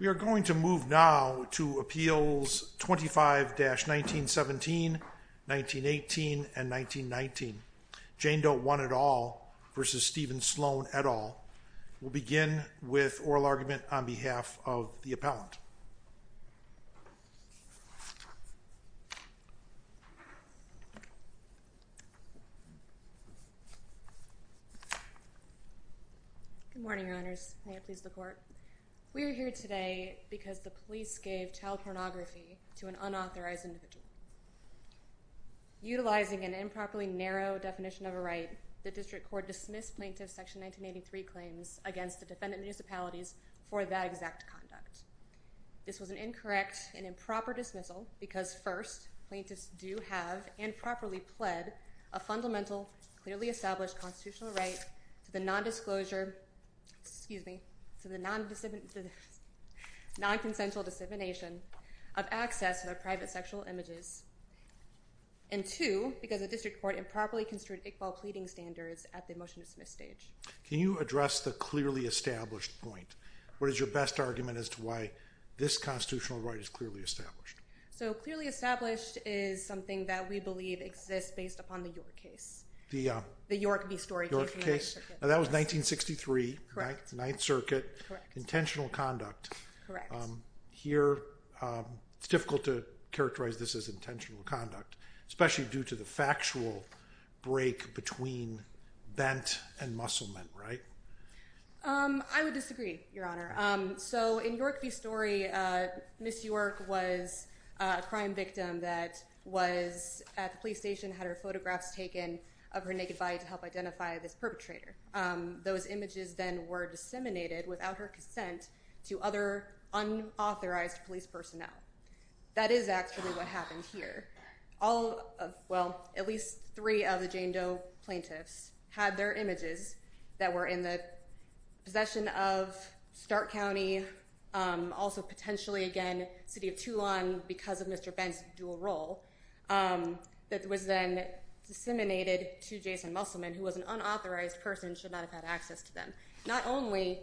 We are going to move now to Appeals 25-1917, 1918, and 1919. Jane Doe 1 et al. v. Steven Sloan et al. We'll begin with oral argument on behalf of the appellant. Good morning, Your Honors. May it please the Court. We are here today because the police gave child pornography to an unauthorized individual. Utilizing an improperly narrow definition of a right, the District Court dismissed Plaintiff Section 1983 claims against the defendant municipalities for that exact conduct. This was an incorrect and improper dismissal because, first, plaintiffs do have, and properly pled, a fundamental, clearly established constitutional right to the non-disclosure, excuse me, to the non-consensual dissemination of access to their private sexual images, and, two, because the District Court improperly construed Iqbal pleading standards at the motion-to-dismiss stage. Can you address the clearly established point? What is your best argument as to why this constitutional right is clearly established? So, clearly established is something that we believe exists based upon the York case. The York v. Story case in the 9th Circuit. Now, that was 1963, 9th Circuit. Correct. Intentional conduct. Correct. Here, it's difficult to characterize this as intentional conduct, especially due to the factual break between bent and musclement, right? I would disagree, Your Honor. So, in York v. Story, Miss York was a crime victim that was at the police station, had her photographs taken of her naked body to help identify this perpetrator. Those images then were disseminated without her consent to other unauthorized police personnel. That is actually what happened here. All of, well, at least three of the Jane Doe plaintiffs had their images that were in the possession of Stark County, also potentially, again, City of Toulon because of Mr. Bent's dual role, that was then disseminated to Jason Musselman, who was an unauthorized person and should not have had access to them. Not only,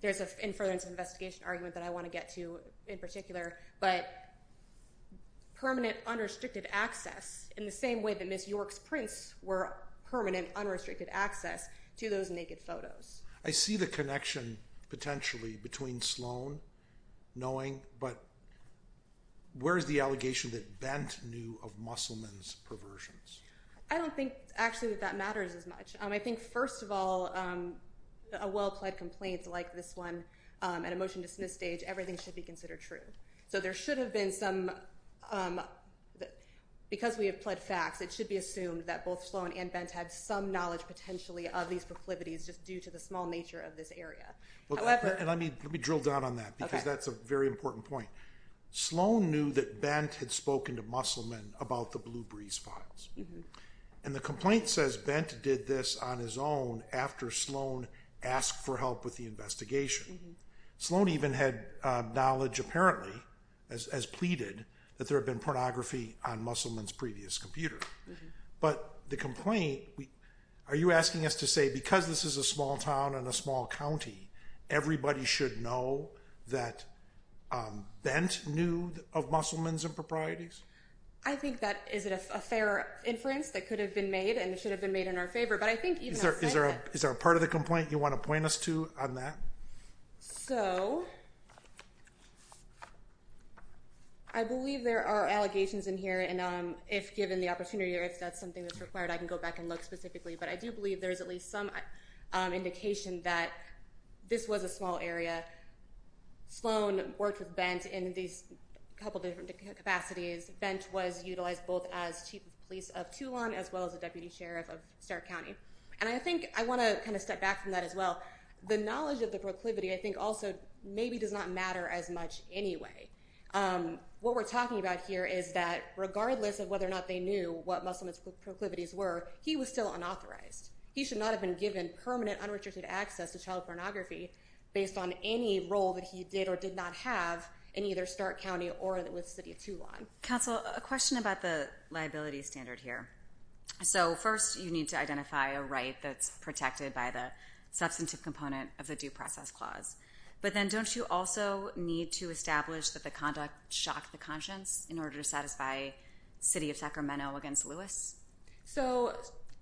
there's a further investigation argument that I want to get to in particular, but permanent unrestricted access in the same way that Miss York's prints were permanent unrestricted access to those naked photos. I see the connection, potentially, between Sloan knowing, but where is the allegation that Bent knew of Musselman's perversions? I don't think, actually, that that matters as much. I think, first of all, a well-pled complaint like this one at a motion-dismissed stage, everything should be considered true. So there should have been some, because we have pled facts, it should be assumed that both Sloan and Bent had some knowledge, potentially, of these proclivities just due to the small nature of this area. However— Let me drill down on that because that's a very important point. Sloan knew that Bent had spoken to Musselman about the Blue Breeze files, and the complaint says Bent did this on his own after Sloan asked for help with the investigation. Sloan even had knowledge, apparently, as pleaded, that there had been pornography on Musselman's previous computer. But the complaint—are you asking us to say because this is a small town in a small county, everybody should know that Bent knew of Musselman's improprieties? I think that is a fair inference that could have been made, and it should have been made in our favor. Is there a part of the complaint you want to point us to on that? So, I believe there are allegations in here, and if given the opportunity or if that's something that's required, I can go back and look specifically. But I do believe there's at least some indication that this was a small area. Sloan worked with Bent in these couple different capacities. Bent was utilized both as chief of police of Toulon as well as a deputy sheriff of Stark County. And I think I want to kind of step back from that as well. The knowledge of the proclivity, I think, also maybe does not matter as much anyway. What we're talking about here is that regardless of whether or not they knew what Musselman's proclivities were, he was still unauthorized. He should not have been given permanent, unrestricted access to child pornography based on any role that he did or did not have in either Stark County or the city of Toulon. Counsel, a question about the liability standard here. So, first, you need to identify a right that's protected by the substantive component of the due process clause. But then don't you also need to establish that the conduct shocked the conscience in order to satisfy city of Sacramento against Lewis? So,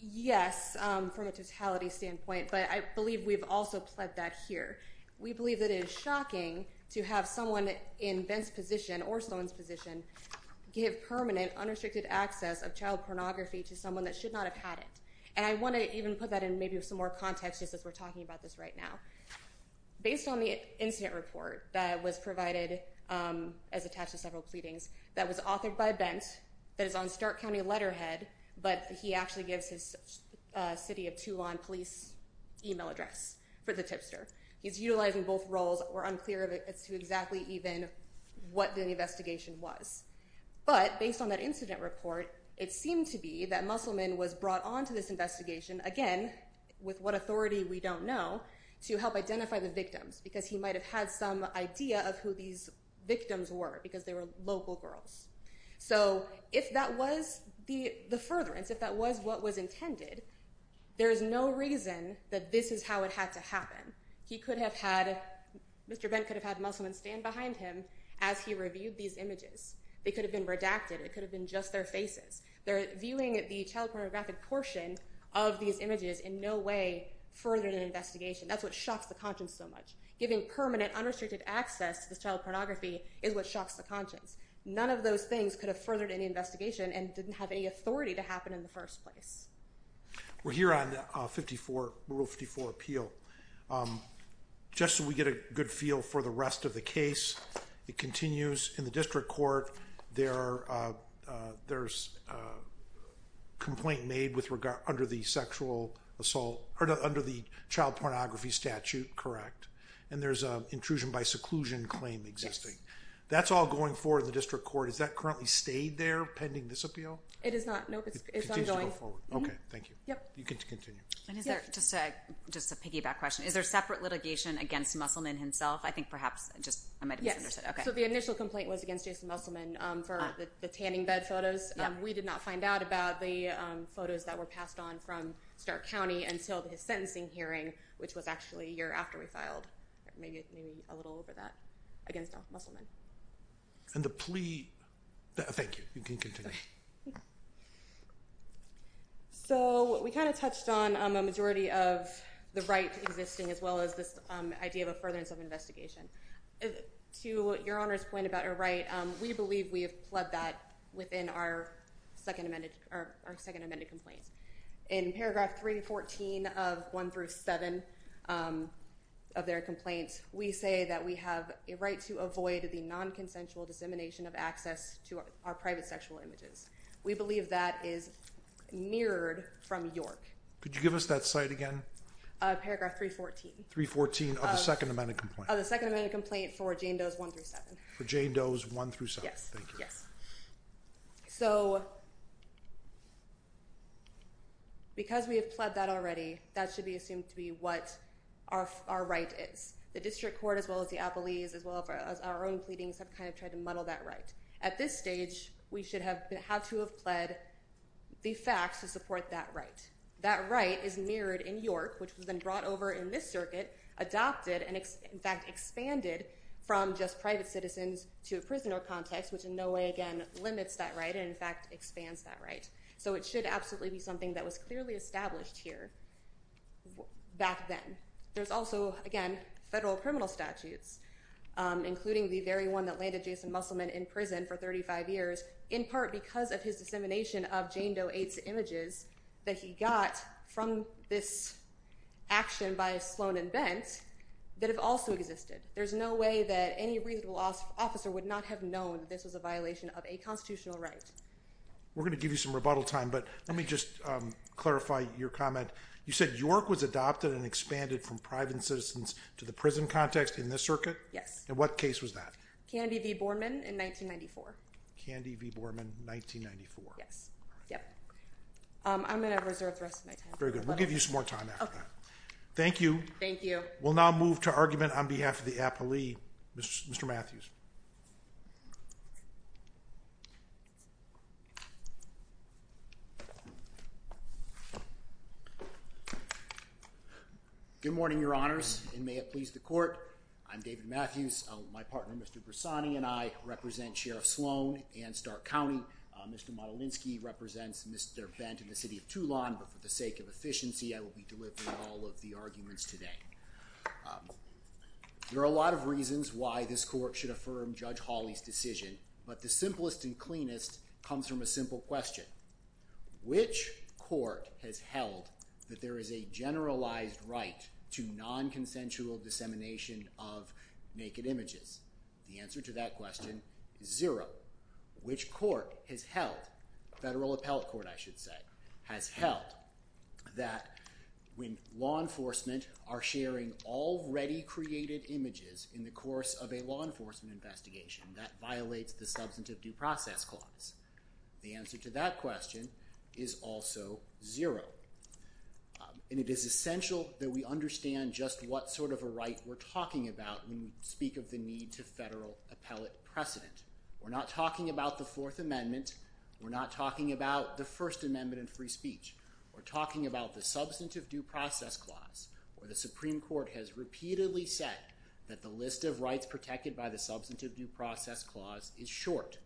yes, from a totality standpoint. But I believe we've also pled that here. We believe that it is shocking to have someone in Bent's position or Stone's position give permanent, unrestricted access of child pornography to someone that should not have had it. And I want to even put that in maybe some more context just as we're talking about this right now. Based on the incident report that was provided as attached to several pleadings that was authored by Bent that is on Stark County letterhead. But he actually gives his city of Toulon police email address for the tipster. He's utilizing both roles. We're unclear as to exactly even what the investigation was. But based on that incident report, it seemed to be that Musselman was brought on to this investigation, again, with what authority we don't know, to help identify the victims. Because he might have had some idea of who these victims were because they were local girls. So if that was the furtherance, if that was what was intended, there is no reason that this is how it had to happen. He could have had, Mr. Bent could have had Musselman stand behind him as he reviewed these images. They could have been redacted. It could have been just their faces. They're viewing the child pornographic portion of these images in no way further than an investigation. That's what shocks the conscience so much. Giving permanent, unrestricted access to this child pornography is what shocks the conscience. None of those things could have furthered any investigation and didn't have any authority to happen in the first place. We're here on Rule 54 appeal. Just so we get a good feel for the rest of the case, it continues in the district court. There's a complaint made under the child pornography statute, correct? And there's an intrusion by seclusion claim existing. That's all going forward in the district court. Is that currently stayed there pending this appeal? It is not. Nope. It's ongoing. Okay. Thank you. Yep. You can continue. Just a piggyback question. Is there separate litigation against Musselman himself? I think perhaps just I might have misunderstood. So the initial complaint was against Jason Musselman for the tanning bed photos. We did not find out about the photos that were passed on from Stark County until his sentencing hearing, which was actually a year after we filed. Maybe a little over that against Musselman. And the plea? Thank you. You can continue. So we kind of touched on a majority of the right existing as well as this idea of a furtherance of investigation. To your Honor's point about a right, we believe we have pled that within our second amended complaint. In paragraph 314 of 1-7 of their complaint, we say that we have a right to avoid the non-consensual dissemination of access to our private sexual images. We believe that is mirrored from York. Could you give us that site again? Paragraph 314. 314 of the second amended complaint. Of the second amended complaint for Jane Doe's 1-7. For Jane Doe's 1-7. Yes. Thank you. Yes. So because we have pled that already, that should be assumed to be what our right is. The district court as well as the appellees as well as our own pleadings have kind of tried to muddle that right. At this stage, we should have had to have pled the facts to support that right. That right is mirrored in York, which was then brought over in this circuit, adopted, and in fact expanded from just private citizens to a prisoner context, which in no way again limits that right and in fact expands that right. So it should absolutely be something that was clearly established here back then. There's also, again, federal criminal statutes, including the very one that landed Jason Musselman in prison for 35 years, in part because of his dissemination of Jane Doe 8's images that he got from this action by Sloan and Bent that have also existed. There's no way that any reasonable officer would not have known this was a violation of a constitutional right. We're going to give you some rebuttal time, but let me just clarify your comment. You said York was adopted and expanded from private citizens to the prison context in this circuit? And what case was that? Candy v. Borman in 1994. Candy v. Borman, 1994. Yes. Yep. I'm going to reserve the rest of my time. Very good. We'll give you some more time after that. Thank you. Thank you. We'll now move to argument on behalf of the appellee, Mr. Matthews. Good morning, Your Honors, and may it please the Court. I'm David Matthews. My partner, Mr. Bressani, and I represent Sheriff Sloan and Stark County. Mr. Modolinski represents Mr. Bent in the city of Toulon, but for the sake of efficiency, I will be delivering all of the arguments today. There are a lot of reasons why this Court should affirm Judge Hawley's decision, but the simplest and cleanest comes from a simple question. Which court has held that there is a generalized right to non-consensual dissemination of naked images? The answer to that question is zero. Which court has held—federal appellate court, I should say—has held that when law enforcement are sharing already created images in the course of a law enforcement investigation, that violates the substantive due process clause? The answer to that question is also zero. And it is essential that we understand just what sort of a right we're talking about when we speak of the need to federal appellate precedent. We're not talking about the Fourth Amendment. We're not talking about the First Amendment and free speech. We're talking about the substantive due process clause, where the Supreme Court has repeatedly said that the list of rights protected by the substantive due process clause is short.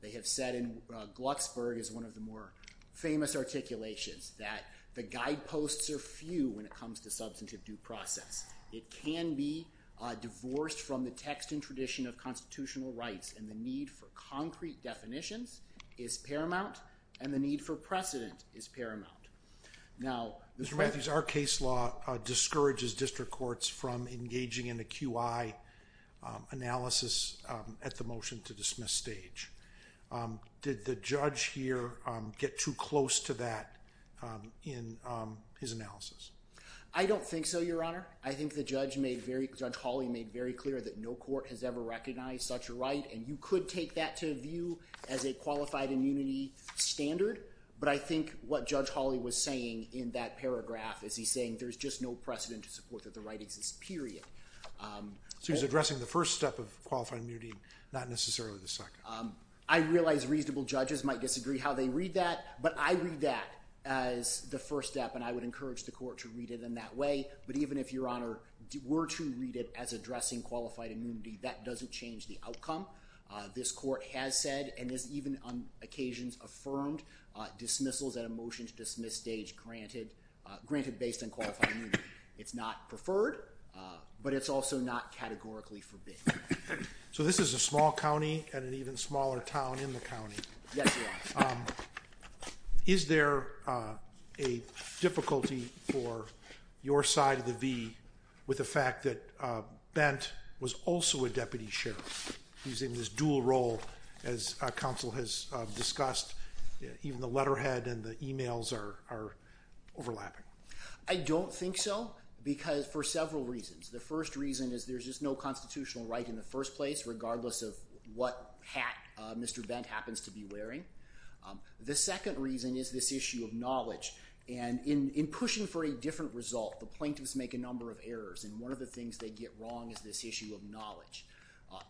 They have said in—Glucksberg is one of the more famous articulations—that the guideposts are few when it comes to substantive due process. It can be divorced from the text and tradition of constitutional rights, and the need for concrete definitions is paramount, and the need for precedent is paramount. Now— Mr. Matthews, our case law discourages district courts from engaging in a QI analysis at the motion-to-dismiss stage. Did the judge here get too close to that in his analysis? I don't think so, Your Honor. I think the judge made very—Judge Hawley made very clear that no court has ever recognized such a right, and you could take that to view as a qualified immunity standard. But I think what Judge Hawley was saying in that paragraph is he's saying there's just no precedent to support that the right exists, period. So he's addressing the first step of qualified immunity, not necessarily the second. I realize reasonable judges might disagree how they read that, but I read that as the first step, and I would encourage the court to read it in that way. But even if, Your Honor, were to read it as addressing qualified immunity, that doesn't change the outcome. This court has said and has even on occasions affirmed dismissals at a motion-to-dismiss stage granted based on qualified immunity. It's not preferred, but it's also not categorically forbidden. So this is a small county and an even smaller town in the county. Yes, Your Honor. Is there a difficulty for your side of the V with the fact that Bent was also a deputy sheriff? He's in this dual role, as counsel has discussed. Even the letterhead and the emails are overlapping. I don't think so, because—for several reasons. The first reason is there's just no constitutional right in the first place, regardless of what hat Mr. Bent happens to be wearing. The second reason is this issue of knowledge. And in pushing for a different result, the plaintiffs make a number of errors, and one of the things they get wrong is this issue of knowledge.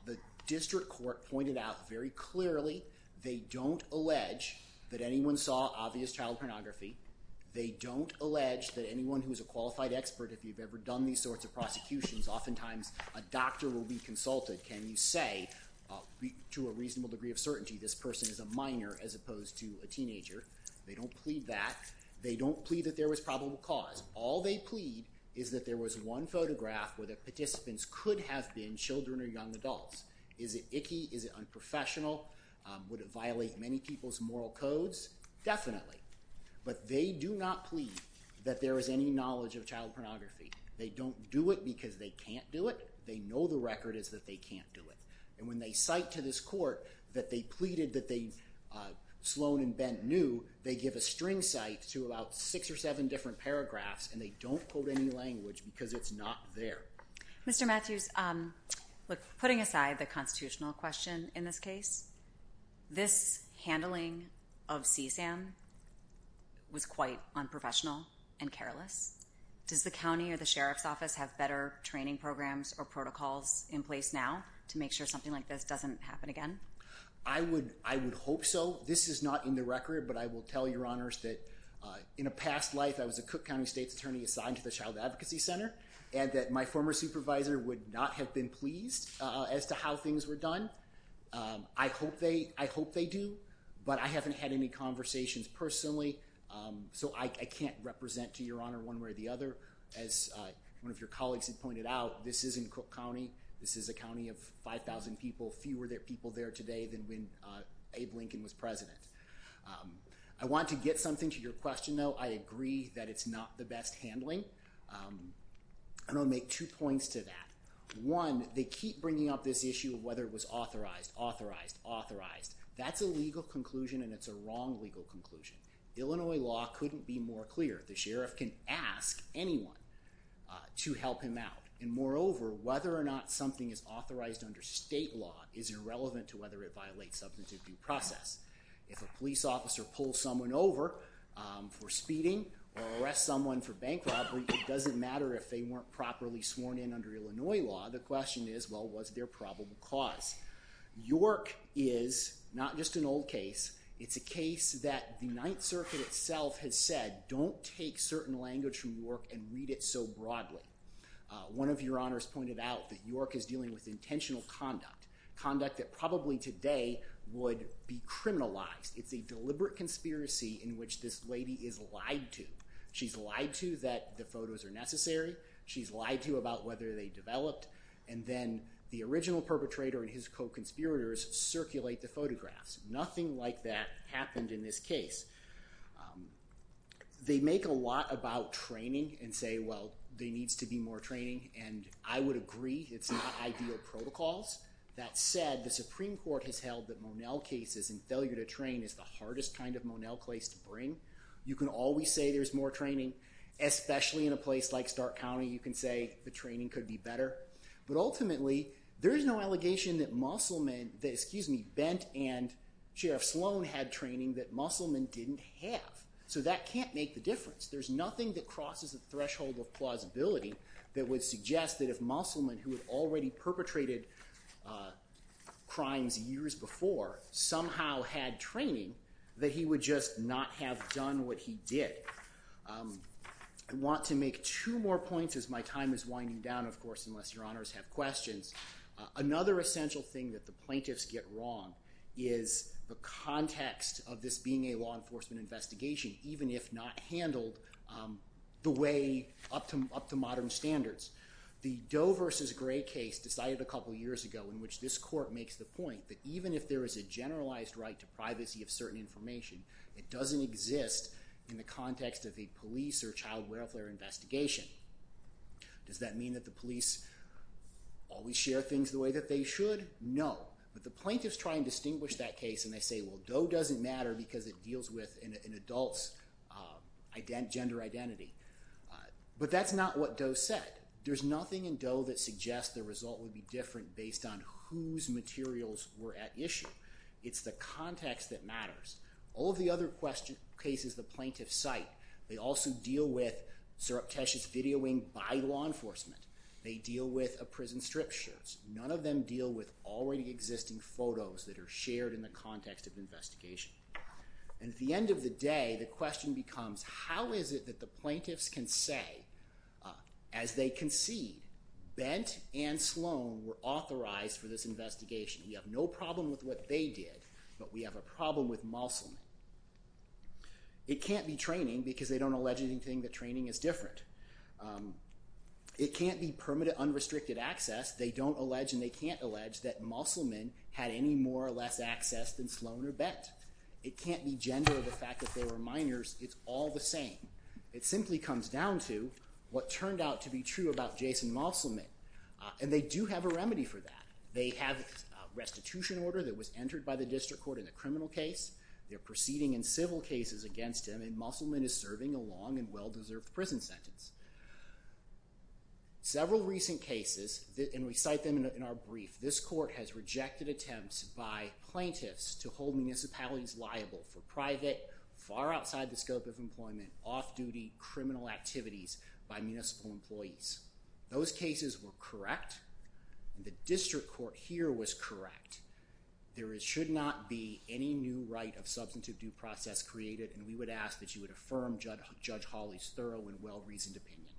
The district court pointed out very clearly they don't allege that anyone saw obvious child pornography. They don't allege that anyone who is a qualified expert, if you've ever done these sorts of prosecutions, oftentimes a doctor will be consulted. Can you say, to a reasonable degree of certainty, this person is a minor as opposed to a teenager? They don't plead that. They don't plead that there was probable cause. All they plead is that there was one photograph where the participants could have been children or young adults. Is it icky? Is it unprofessional? Would it violate many people's moral codes? Definitely. But they do not plead that there is any knowledge of child pornography. They don't do it because they can't do it. They know the record is that they can't do it. And when they cite to this court that they pleaded that Sloan and Bent knew, they give a string cite to about six or seven different paragraphs, and they don't quote any language because it's not there. Mr. Matthews, putting aside the constitutional question in this case, this handling of CSAM was quite unprofessional and careless. Does the county or the sheriff's office have better training programs or protocols in place now to make sure something like this doesn't happen again? I would hope so. This is not in the record, but I will tell your honors that in a past life I was a Cook County State's attorney assigned to the Child Advocacy Center and that my former supervisor would not have been pleased as to how things were done. I hope they do, but I haven't had any conversations personally, so I can't represent to your honor one way or the other. As one of your colleagues had pointed out, this isn't Cook County. This is a county of 5,000 people, fewer people there today than when Abe Lincoln was president. I want to get something to your question, though. I agree that it's not the best handling, and I'll make two points to that. One, they keep bringing up this issue of whether it was authorized, authorized, authorized. That's a legal conclusion, and it's a wrong legal conclusion. Illinois law couldn't be more clear. The sheriff can ask anyone to help him out, and moreover, whether or not something is authorized under state law is irrelevant to whether it violates substantive due process. If a police officer pulls someone over for speeding or arrests someone for bank robbery, it doesn't matter if they weren't properly sworn in under Illinois law. The question is, well, was there probable cause? York is not just an old case. It's a case that the Ninth Circuit itself has said, don't take certain language from York and read it so broadly. One of your honors pointed out that York is dealing with intentional conduct, conduct that probably today would be criminalized. It's a deliberate conspiracy in which this lady is lied to. She's lied to that the photos are necessary. She's lied to about whether they developed, and then the original perpetrator and his co-conspirators circulate the photographs. Nothing like that happened in this case. They make a lot about training and say, well, there needs to be more training, and I would agree. It's not ideal protocols. That said, the Supreme Court has held that Monell cases and failure to train is the hardest kind of Monell case to bring. You can always say there's more training. Especially in a place like Stark County, you can say the training could be better. But ultimately, there is no allegation that Bent and Sheriff Sloan had training that Musselman didn't have. So that can't make the difference. There's nothing that crosses the threshold of plausibility that would suggest that if Musselman, who had already perpetrated crimes years before, somehow had training, that he would just not have done what he did. I want to make two more points as my time is winding down, of course, unless your honors have questions. Another essential thing that the plaintiffs get wrong is the context of this being a law enforcement investigation, even if not handled the way up to modern standards. The Doe v. Gray case decided a couple years ago in which this court makes the point that even if there is a generalized right to privacy of certain information, it doesn't exist in the context of a police or child welfare investigation. Does that mean that the police always share things the way that they should? No. But the plaintiffs try and distinguish that case and they say, well, Doe doesn't matter because it deals with an adult's gender identity. But that's not what Doe said. There's nothing in Doe that suggests the result would be different based on whose materials were at issue. It's the context that matters. All of the other cases the plaintiffs cite, they also deal with surreptitious videoing by law enforcement. They deal with a prison strip shows. None of them deal with already existing photos that are shared in the context of investigation. And at the end of the day, the question becomes, how is it that the plaintiffs can say, as they concede, Bent and Sloan were authorized for this investigation? We have no problem with what they did, but we have a problem with Moselman. It can't be training because they don't allege anything that training is different. It can't be permanent unrestricted access. They don't allege and they can't allege that Moselman had any more or less access than Sloan or Bent. It can't be gender or the fact that they were minors. It's all the same. It simply comes down to what turned out to be true about Jason Moselman. And they do have a remedy for that. They have a restitution order that was entered by the district court in the criminal case. They're proceeding in civil cases against him, and Moselman is serving a long and well-deserved prison sentence. Several recent cases, and we cite them in our brief, this court has rejected attempts by plaintiffs to hold municipalities liable for private, far outside the scope of employment, off-duty criminal activities by municipal employees. Those cases were correct, and the district court here was correct. There should not be any new right of substantive due process created, and we would ask that you would affirm Judge Hawley's thorough and well-reasoned opinion.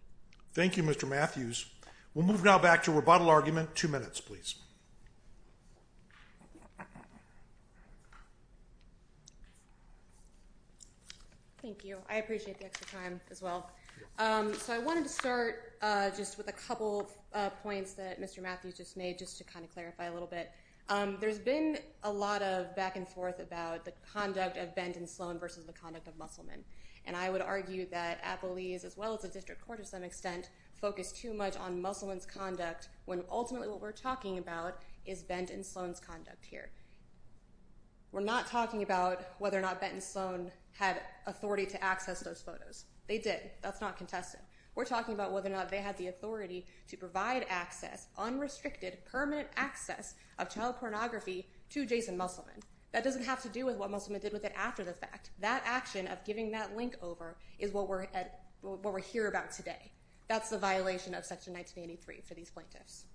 Thank you, Mr. Matthews. We'll move now back to rebuttal argument. Two minutes, please. Thank you. I appreciate the extra time as well. So I wanted to start just with a couple of points that Mr. Matthews just made just to kind of clarify a little bit. There's been a lot of back and forth about the conduct of Benton Sloan versus the conduct of Moselman, and I would argue that Appalese, as well as the district court to some extent, focused too much on Moselman's conduct, when ultimately what we're talking about is Benton Sloan's conduct here. We're not talking about whether or not Benton Sloan had authority to access those photos. They did. That's not contested. We're talking about whether or not they had the authority to provide access, unrestricted, permanent access of child pornography to Jason Moselman. That doesn't have to do with what Moselman did with it after the fact. That action of giving that link over is what we're here about today. That's the violation of Section 1983 for these plaintiffs.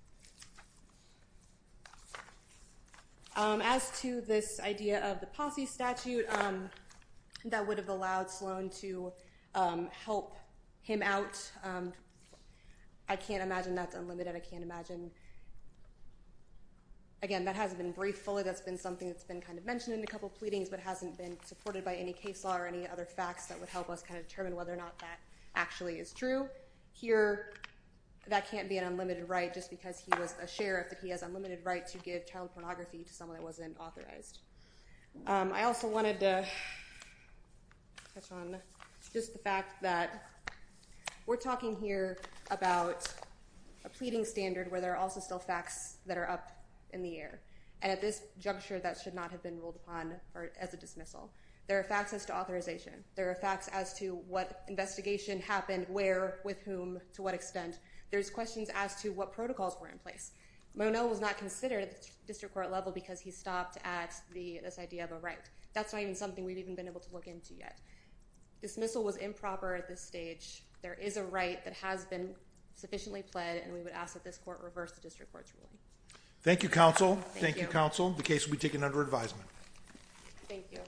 As to this idea of the posse statute, that would have allowed Sloan to help him out. I can't imagine that's unlimited. I can't imagine. Again, that hasn't been briefed fully. That's been something that's been kind of mentioned in a couple of pleadings, but hasn't been supported by any case law or any other facts that would help us kind of determine whether or not that actually is true. Here, that can't be an unlimited right just because he was a sheriff, that he has unlimited right to give child pornography to someone that wasn't authorized. I also wanted to touch on just the fact that we're talking here about a pleading standard where there are also still facts that are up in the air, and at this juncture that should not have been ruled upon as a dismissal. There are facts as to authorization. There are facts as to what investigation happened, where, with whom, to what extent. There's questions as to what protocols were in place. Monel was not considered at the district court level because he stopped at this idea of a right. That's not even something we've even been able to look into yet. Dismissal was improper at this stage. There is a right that has been sufficiently pled, and we would ask that this court reverse the district court's ruling. Thank you, counsel. Thank you, counsel. The case will be taken under advisement. Thank you. Thank you.